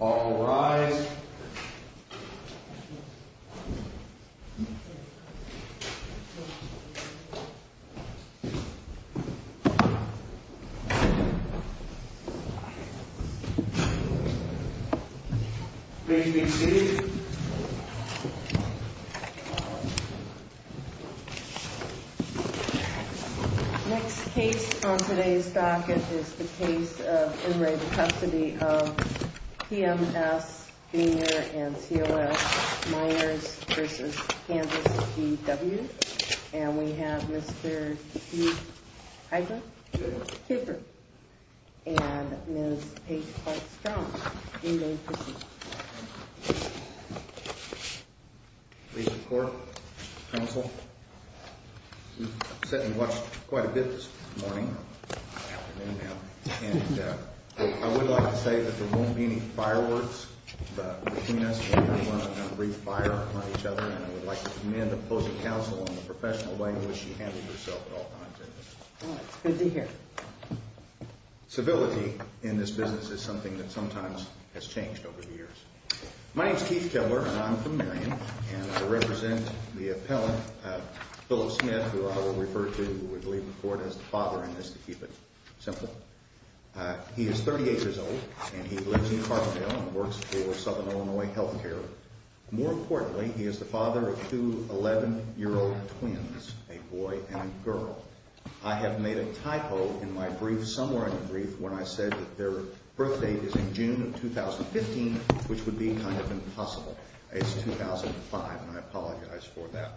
All rise. Thank you. Next case on today's docket is the case of in re custody of P.M.S. Senior and C.O.S. Minors versus Canvas P.W. And we have Mr. Hugh Heidman. Here. Cooper. And Ms. Paige Clark-Strong. Please record, counsel. We've sat and watched quite a bit this morning, afternoon now. And I would like to say that there won't be any fireworks between us. We're going to breathe fire on each other. And I would like to commend the post of counsel on the professional language you handle yourself at all times. Well, it's good to hear. Civility in this business is something that sometimes has changed over the years. My name's Keith Kepler, and I'm from Marion. And I represent the appellant, Phyllis Smith, who I will refer to, we believe, before as the father in this, to keep it simple. He is 38 years old, and he lives in Carbondale and works for Southern Illinois Health Care. More importantly, he is the father of two 11-year-old twins, a boy and a girl. I have made a typo in my brief somewhere in the brief when I said that their birth date is in June of 2015, which would be kind of impossible. It's 2005, and I apologize for that.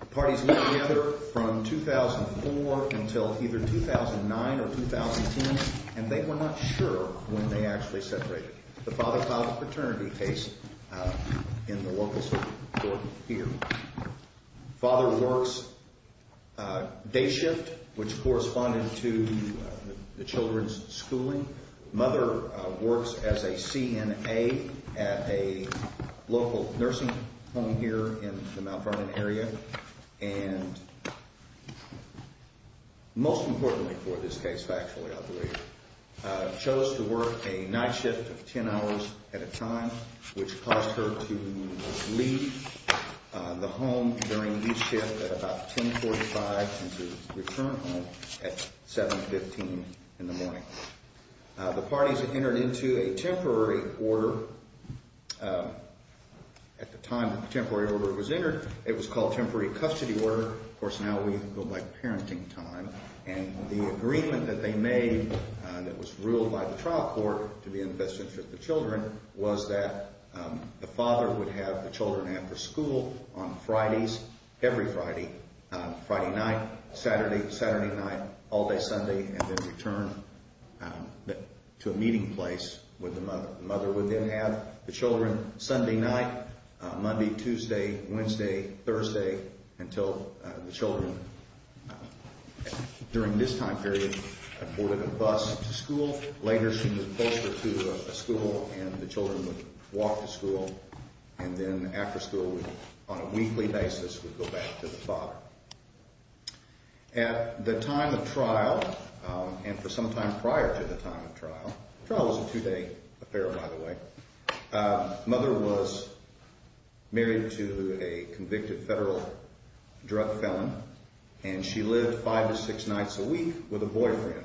The parties were together from 2004 until either 2009 or 2010, and they were not sure when they actually separated. The father filed a paternity case in the local court here. Father works day shift, which corresponded to the children's schooling. Mother works as a CNA at a local nursing home here in the Mount Vernon area. And most importantly for this case, factually, I believe, chose to work a night shift of 10 hours at a time, which caused her to leave the home during each shift at about 10.45 and to return home at 7.15 in the morning. The parties entered into a temporary order at the time the temporary order was entered. It was called temporary custody order. Of course, now we go by parenting time, and the agreement that they made that was ruled by the trial court to be in the best interest of the children was that the father would have the children after school on Fridays, every Friday, Friday night, Saturday, Saturday night, all day Sunday, and then return to a meeting place where the mother would then have the children Sunday night, Monday, Tuesday, Wednesday, Thursday, until the children, during this time period, boarded a bus to school. Later she would post her to a school, and the children would walk to school. And then after school, on a weekly basis, would go back to the father. At the time of trial, and for some time prior to the time of trial, trial was a two-day affair, by the way, mother was married to a convicted federal drug felon, and she lived five to six nights a week with a boyfriend.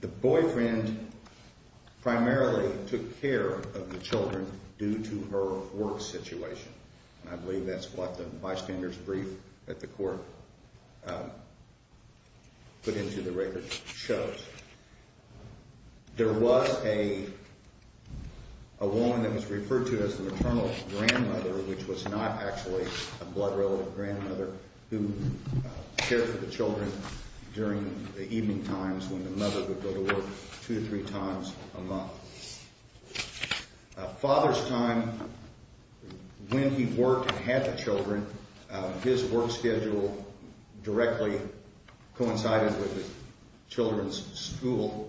The boyfriend primarily took care of the children due to her work situation. I believe that's what the bystander's brief that the court put into the record shows. There was a woman that was referred to as the maternal grandmother, which was not actually a blood-relevant grandmother who cared for the children during the evening times when the mother would go to work two to three times a month. Father's time, when he worked and had the children, his work schedule directly coincided with the children's school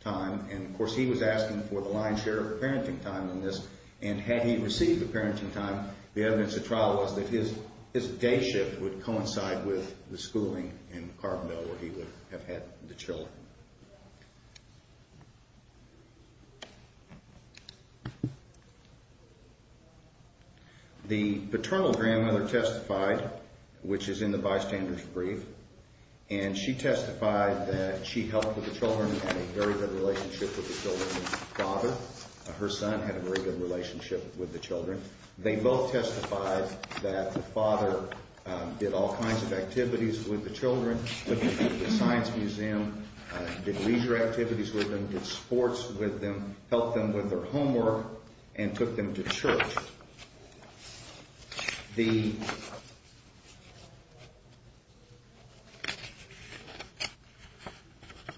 time. And, of course, he was asking for the lion's share of parenting time in this, and had he received the parenting time, the evidence at trial was that his day shift would coincide with the schooling in Carbondale where he would have had the children. The paternal grandmother testified, which is in the bystander's brief, and she testified that she helped with the children and had a very good relationship with the children's father. Her son had a very good relationship with the children. They both testified that the father did all kinds of activities with the children, took them to the science museum, did leisure activities with them, did sports with them, helped them with their homework, and took them to church. The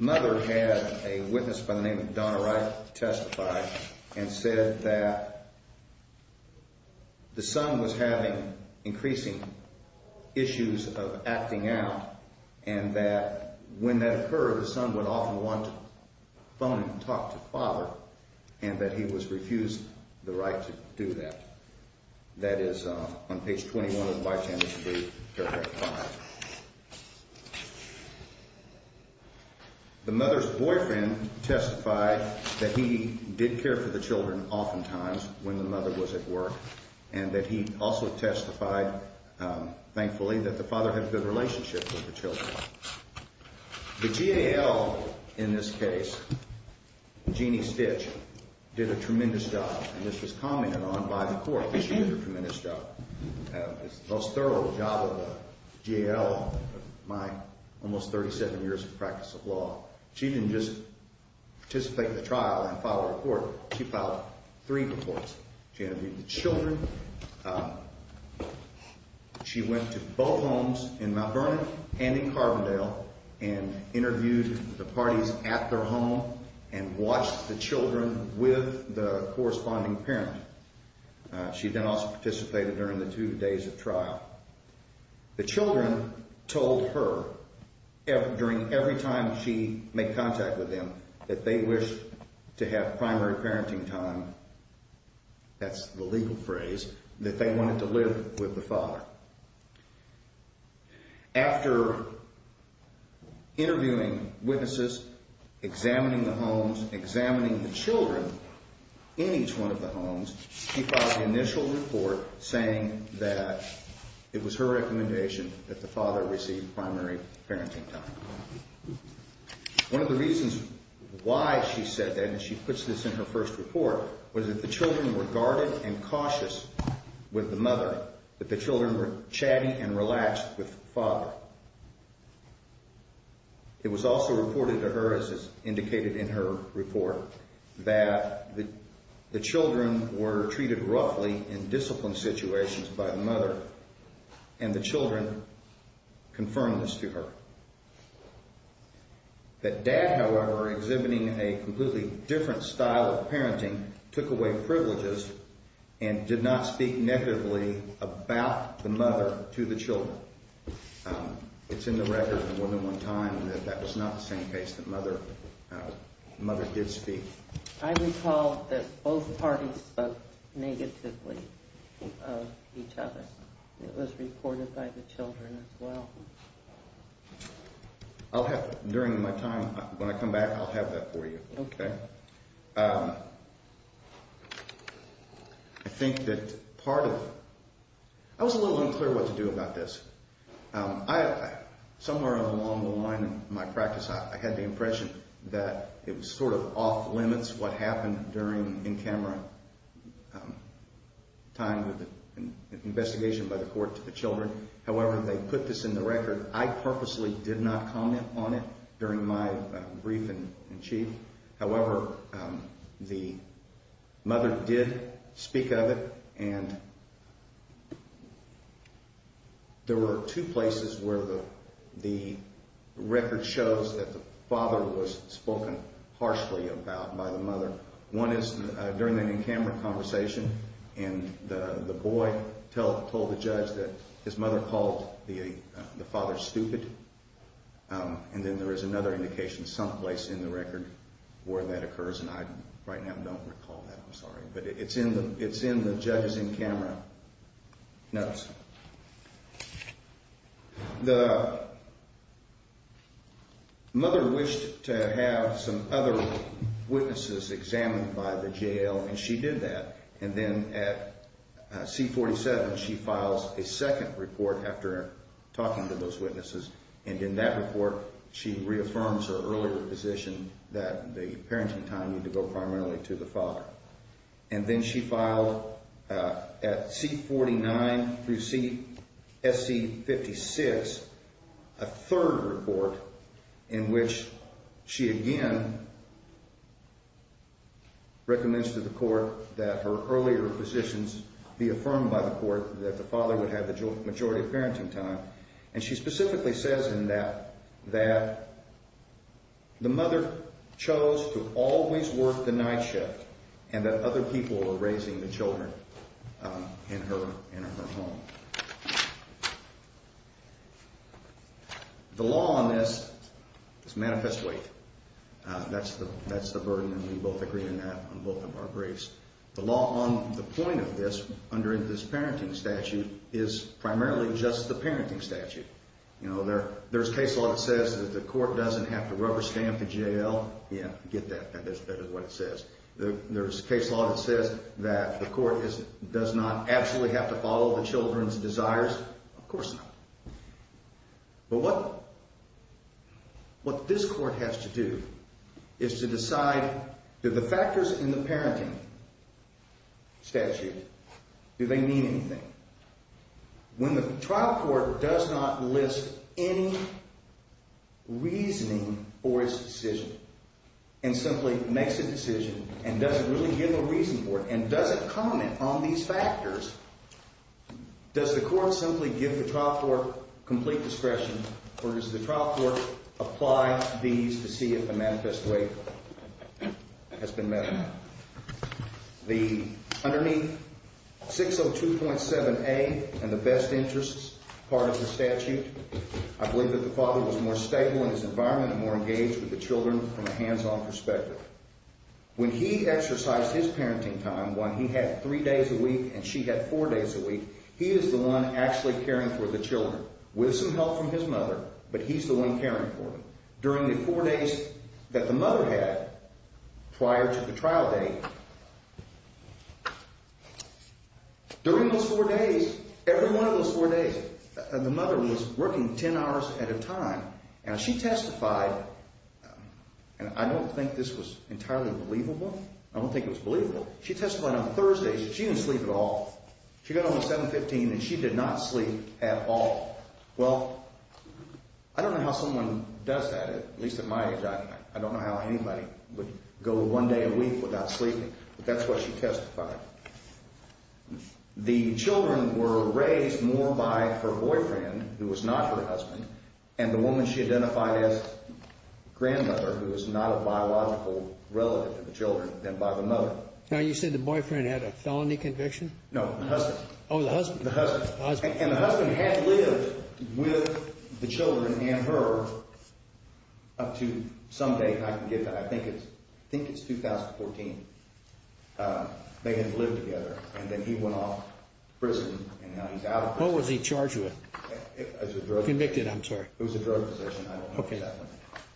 mother had a witness by the name of Donna Wright testify and said that the son was having increasing issues of acting out and that when that occurred, the son would often want to phone and talk to father and that he was refused the right to do that. That is on page 21 of the bystander's brief, paragraph 5. The mother's boyfriend testified that he did care for the children oftentimes when the mother was at work, and that he also testified, thankfully, that the father had a good relationship with the children. The GAL in this case, Jeanne Stitch, did a tremendous job, and this was commented on by the court. She did a tremendous job, the most thorough job of the GAL in my almost 37 years of practice of law. She didn't just participate in the trial and file a report. She filed three reports. She interviewed the children. She went to both homes in Mount Vernon and in Carbondale and interviewed the parties at their home and watched the children with the corresponding parent. She then also participated during the two days of trial. The children told her during every time she made contact with them that they wished to have primary parenting time, that's the legal phrase, that they wanted to live with the father. After interviewing witnesses, examining the homes, examining the children in each one of the homes, she filed the initial report saying that it was her recommendation that the father receive primary parenting time. One of the reasons why she said that, and she puts this in her first report, was that the children were guarded and cautious with the mother, that the children were chatty and relaxed with the father. It was also reported to her, as is indicated in her report, that the children were treated roughly in disciplined situations by the mother, and the children confirmed this to her. That dad, however, exhibiting a completely different style of parenting, took away privileges and did not speak negatively about the mother to the children. It's in the record from one-to-one time that that was not the same case that mother did speak. I recall that both parties spoke negatively of each other. It was reported by the children as well. During my time, when I come back, I'll have that for you. Okay. I think that part of—I was a little unclear what to do about this. Somewhere along the line in my practice, I had the impression that it was sort of off-limits what happened during, in Cameron, time with the investigation by the court to the children. However, they put this in the record. I purposely did not comment on it during my brief in chief. However, the mother did speak of it, and there were two places where the record shows that the father was spoken harshly about by the mother. One is during the Cameron conversation, and the boy told the judge that his mother called the father stupid. And then there is another indication someplace in the record where that occurs, and I right now don't recall that. I'm sorry. But it's in the judge's in-camera notes. The mother wished to have some other witnesses examined by the jail, and she did that. And then at C-47, she files a second report after talking to those witnesses, and in that report, she reaffirms her earlier position that the parenting time needed to go primarily to the father. And then she filed at C-49 through C—SC-56, a third report, in which she again recommends to the court that her earlier positions be affirmed by the court, that the father would have the majority of parenting time. And she specifically says in that that the mother chose to always work the night shift and that other people were raising the children in her home. The law on this is manifest weight. That's the burden, and we both agree on that on both of our briefs. The law on the point of this under this parenting statute is primarily just the parenting statute. You know, there's case law that says that the court doesn't have to rubber stamp the jail. Yeah, get that. That is what it says. There's case law that says that the court does not absolutely have to follow the children's desires. Of course not. But what this court has to do is to decide do the factors in the parenting statute, do they mean anything? When the trial court does not list any reasoning for its decision and simply makes a decision and doesn't really give a reason for it and doesn't comment on these factors, does the court simply give the trial court complete discretion, or does the trial court apply these to see if the manifest weight has been met or not? Underneath 602.7a and the best interests part of the statute, I believe that the father was more stable in his environment and more engaged with the children from a hands-on perspective. When he exercised his parenting time, when he had three days a week and she had four days a week, he is the one actually caring for the children with some help from his mother, but he's the one caring for them. During the four days that the mother had prior to the trial date, during those four days, every one of those four days, the mother was working 10 hours at a time. And she testified, and I don't think this was entirely believable. I don't think it was believable. She testified on Thursdays that she didn't sleep at all. She got home at 7.15 and she did not sleep at all. Well, I don't know how someone does that, at least at my age I don't. I don't know how anybody would go one day a week without sleeping, but that's what she testified. The children were raised more by her boyfriend, who was not her husband, and the woman she identified as grandmother, who is not a biological relative to the children, than by the mother. Now, you said the boyfriend had a felony conviction? No, the husband. Oh, the husband. The husband. And the husband had lived with the children and her up to some date, and I can get that. I think it's 2014. They had lived together, and then he went off to prison, and now he's out of prison. What was he charged with? Convicted, I'm sorry. It was a drug possession. I don't know what that was.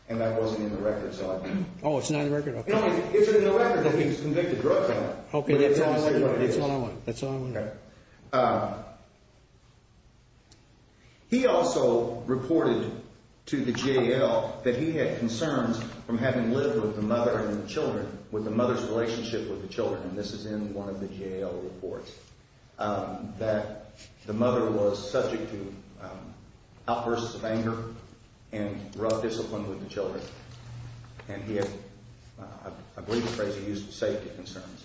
And that wasn't in the record, so I don't know. Oh, it's not in the record? No, it's in the record that he was convicted of drug dealing. Okay, that's all I want. That's all I want. That's all I want. Okay. He also reported to the JAL that he had concerns from having lived with the mother and the children, with the mother's relationship with the children, and this is in one of the JAL reports, that the mother was subject to outbursts of anger and rough discipline with the children, and he had, I believe the phrase he used, safety concerns.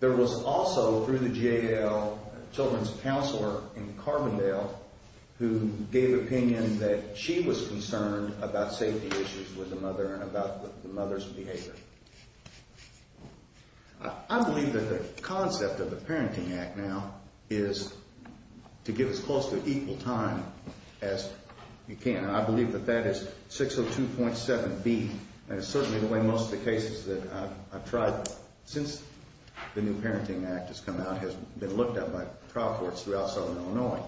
There was also, through the JAL, a children's counselor in Carbondale who gave opinion that she was concerned about safety issues with the mother and about the mother's behavior. I believe that the concept of the Parenting Act now is to give as close to equal time as you can, and I believe that that is 602.7B, and it's certainly the way most of the cases that I've tried since the new Parenting Act has come out has been looked at by trial courts throughout Southern Illinois,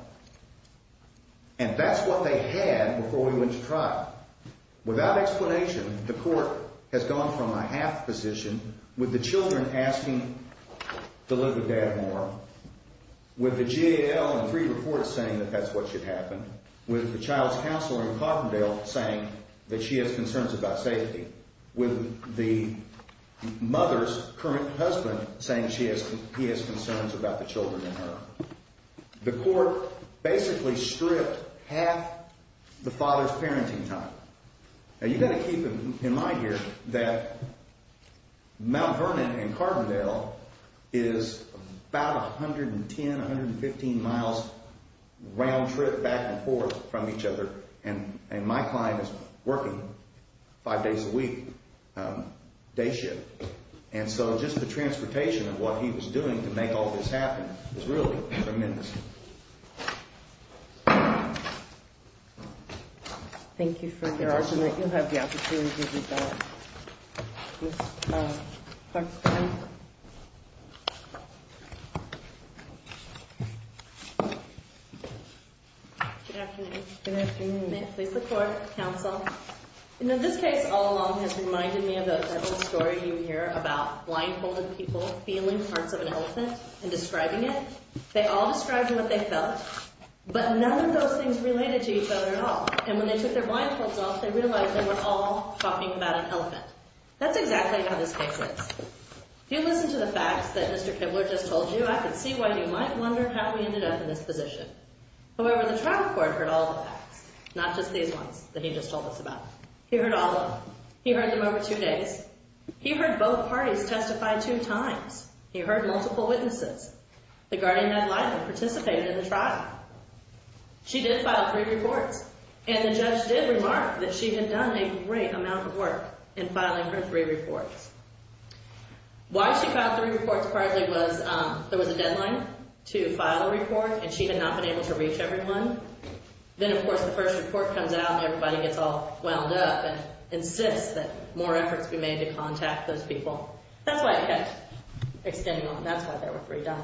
and that's what they had before we went to trial. Without explanation, the court has gone from a half position with the children asking to live with Dad more, with the JAL and three reports saying that that's what should happen, with the child's counselor in Carbondale saying that she has concerns about safety, with the mother's current husband saying he has concerns about the children in her. The court basically stripped half the father's parenting time. Now, you've got to keep in mind here that Mount Vernon in Carbondale is about 110, 115 miles round trip back and forth from each other, and my client is working five days a week, day shift, and so just the transportation of what he was doing to make all this happen is really tremendous. Thank you for your argument. You'll have the opportunity to read that next time. Good afternoon. Good afternoon. May it please the Court, Counsel. In this case all along has reminded me of that little story you hear about blindfolded people feeling parts of an elephant and describing it. They all described what they felt, but none of those things related to each other at all, and when they took their blindfolds off they realized they were all talking about an elephant. That's exactly how this case is. If you listen to the facts that Mr. Kibler just told you, I can see why you might wonder how we ended up in this position. However, the trial court heard all the facts, not just these ones that he just told us about. He heard all of them. He heard them over two days. He heard both parties testify two times. He heard multiple witnesses. The guardian had likely participated in the trial. She did file three reports, and the judge did remark that she had done a great amount of work in filing her three reports. Why she filed three reports partly was there was a deadline to file a report, and she had not been able to reach everyone. Then, of course, the first report comes out and everybody gets all wound up and insists that more efforts be made to contact those people. That's why it kept extending on. That's why there were three done.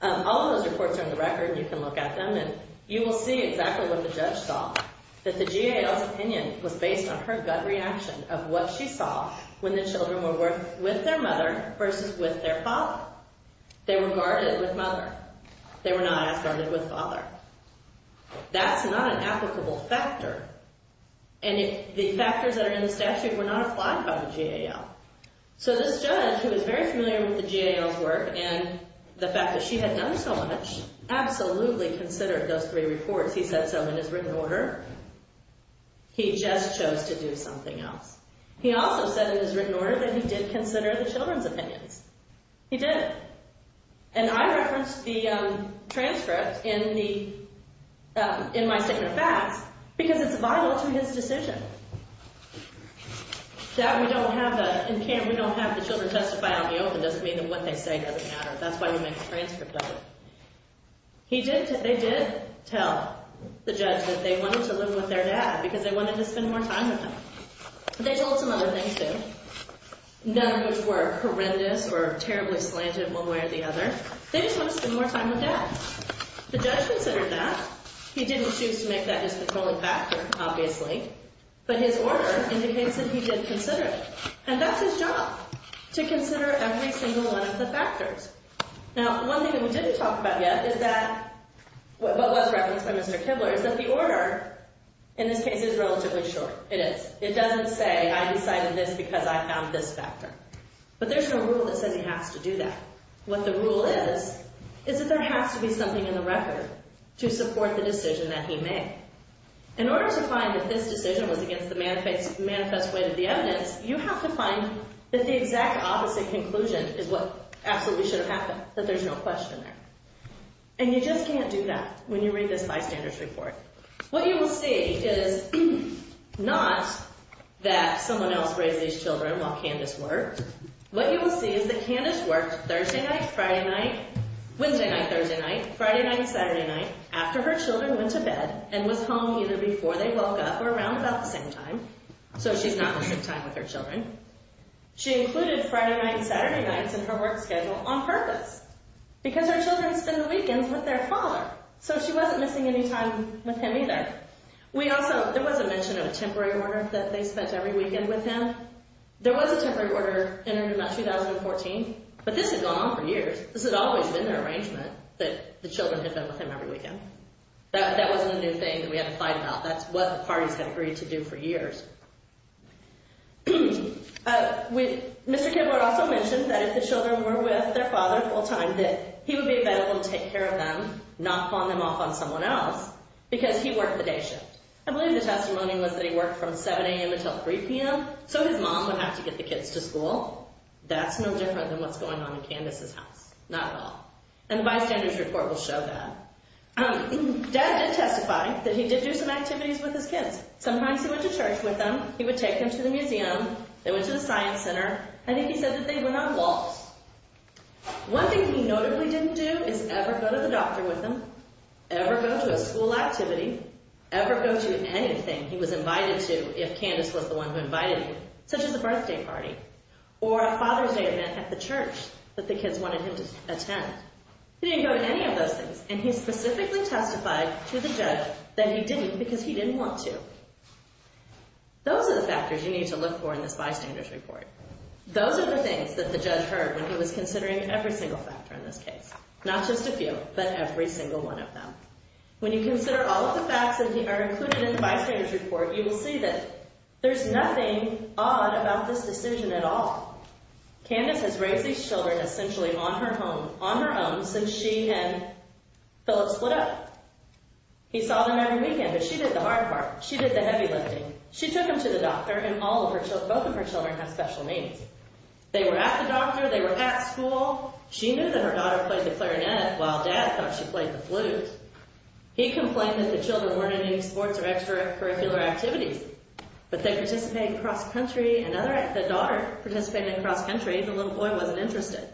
All of those reports are in the record. You can look at them, and you will see exactly what the judge saw, that the GAL's opinion was based on her gut reaction of what she saw when the children were with their mother versus with their father. They were guarded with mother. They were not as guarded with father. That's not an applicable factor, and the factors that are in the statute were not applied by the GAL. So this judge, who was very familiar with the GAL's work and the fact that she had done so much, absolutely considered those three reports. He said so in his written order. He just chose to do something else. He also said in his written order that he did consider the children's opinions. He did. And I referenced the transcript in my statement of facts because it's vital to his decision that we don't have the children testify on the open. It doesn't mean that what they say doesn't matter. That's why we make a transcript of it. They did tell the judge that they wanted to live with their dad because they wanted to spend more time with him. They told some other things, too, none of which were horrendous or terribly slanted one way or the other. They just wanted to spend more time with dad. The judge considered that. He didn't choose to make that his controlling factor, obviously, but his order indicates that he did consider it. And that's his job, to consider every single one of the factors. Now, one thing that we didn't talk about yet is that what was referenced by Mr. Kibler is that the order in this case is relatively short. It is. It doesn't say, I decided this because I found this factor. But there's no rule that says he has to do that. What the rule is is that there has to be something in the record to support the decision that he made. In order to find that this decision was against the manifest weight of the evidence, you have to find that the exact opposite conclusion is what absolutely should have happened, that there's no question there. And you just can't do that when you read this bystanders report. What you will see is not that someone else raised these children while Candace worked. What you will see is that Candace worked Thursday night, Friday night, Wednesday night, Thursday night, Friday night, Saturday night, after her children went to bed and was home either before they woke up or around about the same time. So she's not the same time with her children. She included Friday night and Saturday nights in her work schedule on purpose because her children spend the weekends with their father. So she wasn't missing any time with him either. There was a mention of a temporary order that they spent every weekend with him. There was a temporary order entered in 2014, but this has gone on for years. This has always been their arrangement that the children had been with him every weekend. That wasn't a new thing that we had to fight about. That's what the parties had agreed to do for years. Mr. Kibler also mentioned that if the children were with their father full time, that he would be available to take care of them, not pawn them off on someone else, because he worked the day shift. I believe the testimony was that he worked from 7 a.m. until 3 p.m., so his mom would have to get the kids to school. That's no different than what's going on in Candace's house. Not at all. And the bystander's report will show that. Dad did testify that he did do some activities with his kids. Sometimes he went to church with them. He would take them to the museum. They went to the science center. I think he said that they went on walks. One thing he notably didn't do is ever go to the doctor with them, ever go to a school activity, ever go to anything he was invited to if Candace was the one who invited him, such as a birthday party or a Father's Day event at the church that the kids wanted him to attend. He didn't go to any of those things, and he specifically testified to the judge that he didn't because he didn't want to. Those are the factors you need to look for in this bystander's report. Those are the things that the judge heard when he was considering every single factor in this case, not just a few, but every single one of them. When you consider all of the facts that are included in the bystander's report, you will see that there's nothing odd about this decision at all. Candace has raised these children essentially on her own since she and Philip split up. He saw them every weekend, but she did the hard part. She did the heavy lifting. She took them to the doctor, and both of her children have special needs. They were at the doctor. They were at school. She knew that her daughter played the clarinet while Dad thought she played the flute. He complained that the children weren't in any sports or extracurricular activities, but they participated in cross-country. The daughter participated in cross-country. The little boy wasn't interested.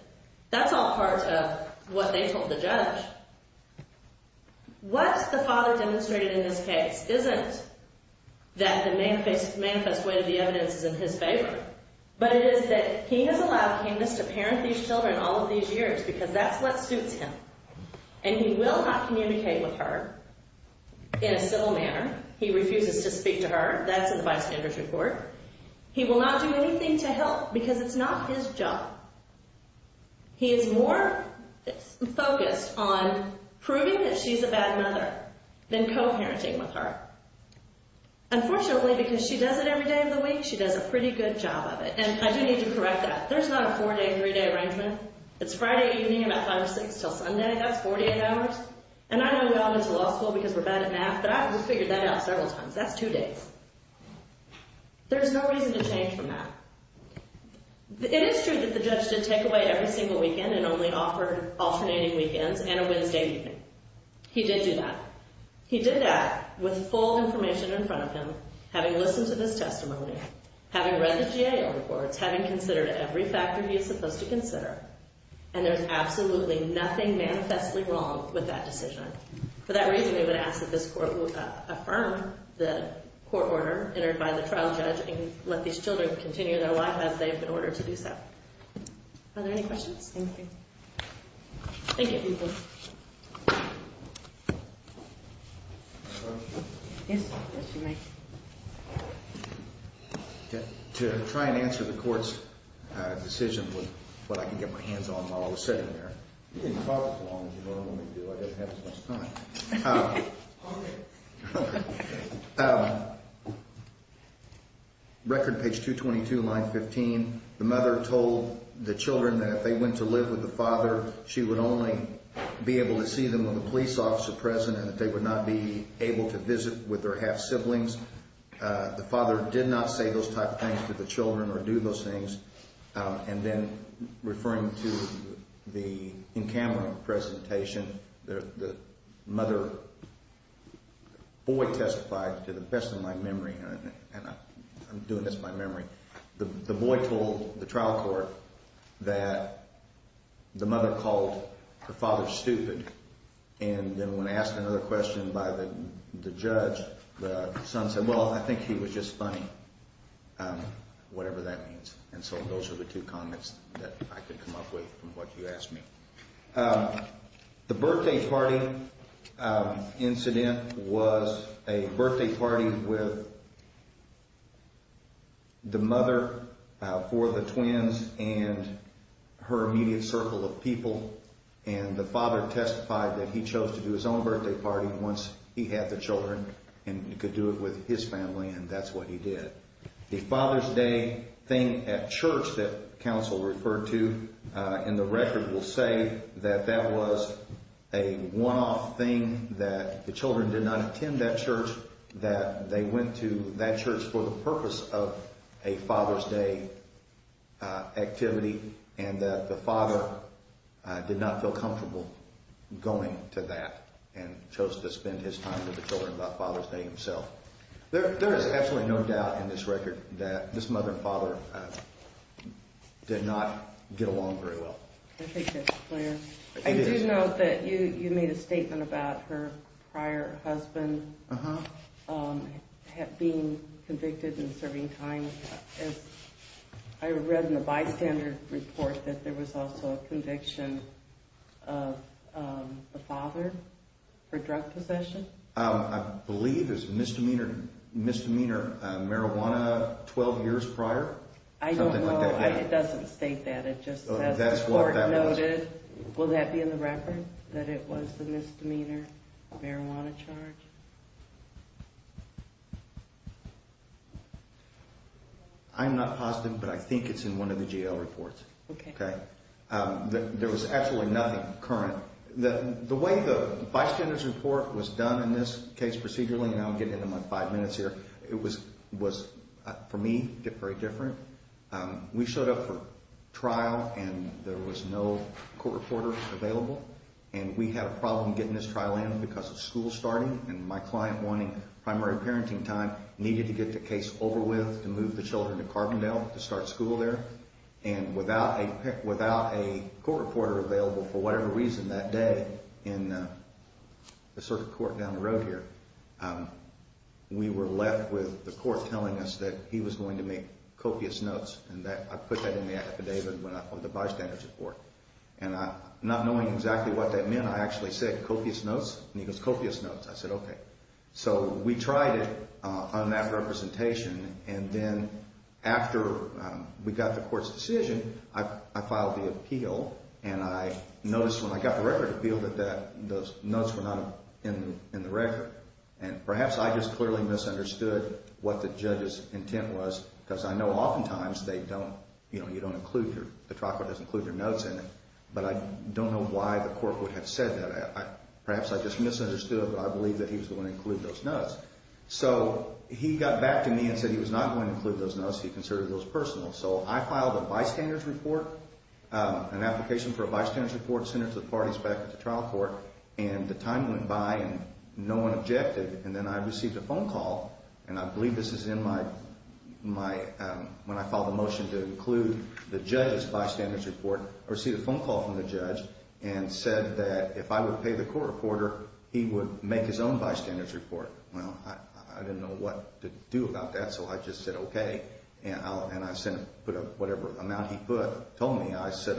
That's all part of what they told the judge. What the father demonstrated in this case isn't that the manifest way of the evidence is in his favor, but it is that he has allowed Candace to parent these children all of these years because that's what suits him, and he will not communicate with her in a civil manner. He refuses to speak to her. That's in the vice manager's report. He will not do anything to help because it's not his job. He is more focused on proving that she's a bad mother than co-parenting with her. Unfortunately, because she does it every day of the week, she does a pretty good job of it, and I do need to correct that. There's not a four-day, three-day arrangement. It's Friday evening about 5 or 6 until Sunday. That's 48 hours, and I know we all go to law school because we're bad at math, but I've figured that out several times. That's two days. There's no reason to change from that. It is true that the judge did take away every single weekend and only offered alternating weekends and a Wednesday evening. He did do that. He did that with full information in front of him, having listened to this testimony, having read the GAO reports, having considered every factor he was supposed to consider, and there's absolutely nothing manifestly wrong with that decision. For that reason, we would ask that this court affirm the court order entered by the trial judge and let these children continue their life as they've been ordered to do so. Are there any questions? Thank you. Thank you. Thank you. To try and answer the court's decision with what I can get my hands on while I was sitting there. You didn't talk as long as you normally do. I didn't have as much time. Record page 222, line 15. The mother told the children that if they went to live with the father, she would only be able to see them when the police officer was present and that they would not be able to visit with their half-siblings. The father did not say those type of things to the children or do those things. And then referring to the in-camera presentation, the mother, the boy testified to the best of my memory, and I'm doing this by memory. The boy told the trial court that the mother called her father stupid. And then when asked another question by the judge, the son said, well, I think he was just funny, whatever that means. And so those are the two comments that I could come up with from what you asked me. The birthday party incident was a birthday party with the mother for the twins and her immediate circle of people. And the father testified that he chose to do his own birthday party once he had the children and could do it with his family, and that's what he did. The Father's Day thing at church that counsel referred to, and the record will say that that was a one-off thing, that the children did not attend that church, that they went to that church for the purpose of a Father's Day activity, and that the father did not feel comfortable going to that and chose to spend his time with the children by Father's Day himself. There is absolutely no doubt in this record that this mother and father did not get along very well. I think that's clear. I do note that you made a statement about her prior husband being convicted and serving time. I read in a bystander report that there was also a conviction of the father for drug possession. I believe it was misdemeanor marijuana 12 years prior. I don't know. It doesn't state that. It just says the court noted. Will that be in the record, that it was the misdemeanor marijuana charge? I'm not positive, but I think it's in one of the jail reports. Okay. There was absolutely nothing current. The way the bystander's report was done in this case procedurally, and I'll get into my five minutes here, it was, for me, very different. We showed up for trial, and there was no court reporter available. And we had a problem getting this trial in because of school starting, and my client, wanting primary parenting time, needed to get the case over with to move the children to Carbondale to start school there. And without a court reporter available for whatever reason that day in the circuit court down the road here, we were left with the court telling us that he was going to make copious notes. And I put that in the affidavit on the bystander's report. And not knowing exactly what that meant, I actually said, copious notes? And he goes, copious notes. I said, okay. So we tried it on that representation, and then after we got the court's decision, I filed the appeal, and I noticed when I got the record appeal that those notes were not in the record. And perhaps I just clearly misunderstood what the judge's intent was, because I know oftentimes they don't, you know, you don't include your, the trial court doesn't include your notes in it. But I don't know why the court would have said that. Perhaps I just misunderstood, but I believe that he was the one who included those notes. So he got back to me and said he was not going to include those notes. He considered those personal. So I filed a bystander's report, an application for a bystander's report, sent it to the parties back at the trial court. And the time went by, and no one objected. And then I received a phone call, and I believe this is in my, when I filed the motion to include the judge's bystander's report, I received a phone call from the judge and said that if I would pay the court reporter, he would make his own bystander's report. Well, I didn't know what to do about that, so I just said okay. And I sent, put whatever amount he put, told me. I said,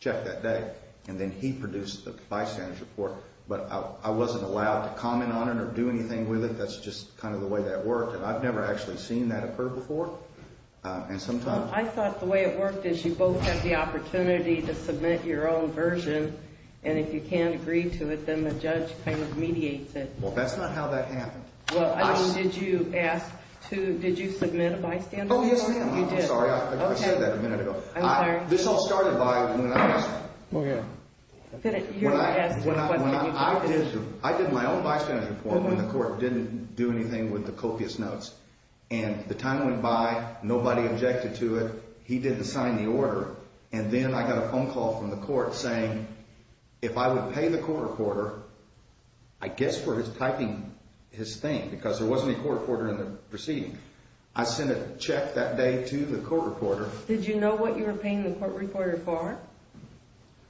check that day. And then he produced the bystander's report. But I wasn't allowed to comment on it or do anything with it. That's just kind of the way that worked. And I've never actually seen that occur before. And sometimes. I thought the way it worked is you both have the opportunity to submit your own version, and if you can't agree to it, then the judge kind of mediates it. Well, that's not how that happened. Well, I mean, did you ask to, did you submit a bystander's report? Oh, yes, ma'am. I'm sorry. Okay. I said that a minute ago. I'm sorry. This all started by when I asked. Well, yeah. When I, when I, I did my own bystander's report when the court didn't do anything with the copious notes. And the time went by, nobody objected to it. He didn't sign the order. And then I got a phone call from the court saying if I would pay the court reporter, I guess for his typing his thing, because there wasn't a court reporter in the proceeding. I sent a check that day to the court reporter. Did you know what you were paying the court reporter for?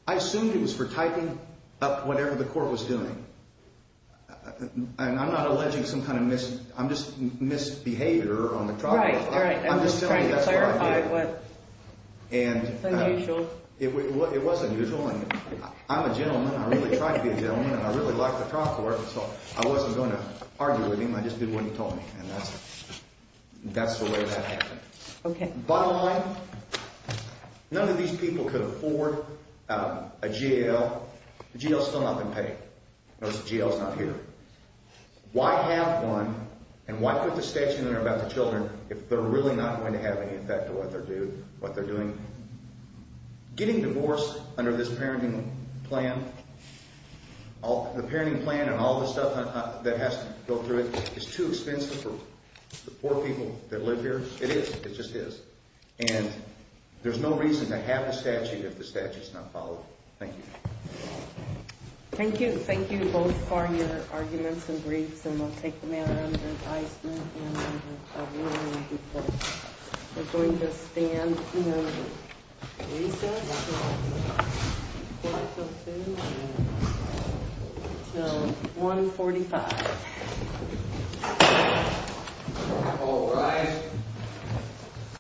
I assumed it was for typing up whatever the court was doing. And I'm not alleging some kind of mis, I'm just misbehavior on the part. Right, right. I'm just trying to clarify what's unusual. It was unusual. I'm a gentleman. I really tried to be a gentleman. And I really liked the cop report. So I wasn't going to argue with him. I just did what he told me. And that's, that's the way that happened. Okay. Bottom line, none of these people could afford a jail. The jail's still not been paid. Notice the jail's not here. Why have one? And why put the statute in there about the children if they're really not going to have any effect on what they're doing? Getting divorced under this parenting plan, the parenting plan and all the stuff that has to go through it, is too expensive for the poor people that live here. It is. It just is. And there's no reason to have a statute if the statute's not followed. Thank you. Thank you. Thank you both for your arguments and briefs. And we'll take them out under advisement and under a warning before we're going to stand. Recess until 145. All rise.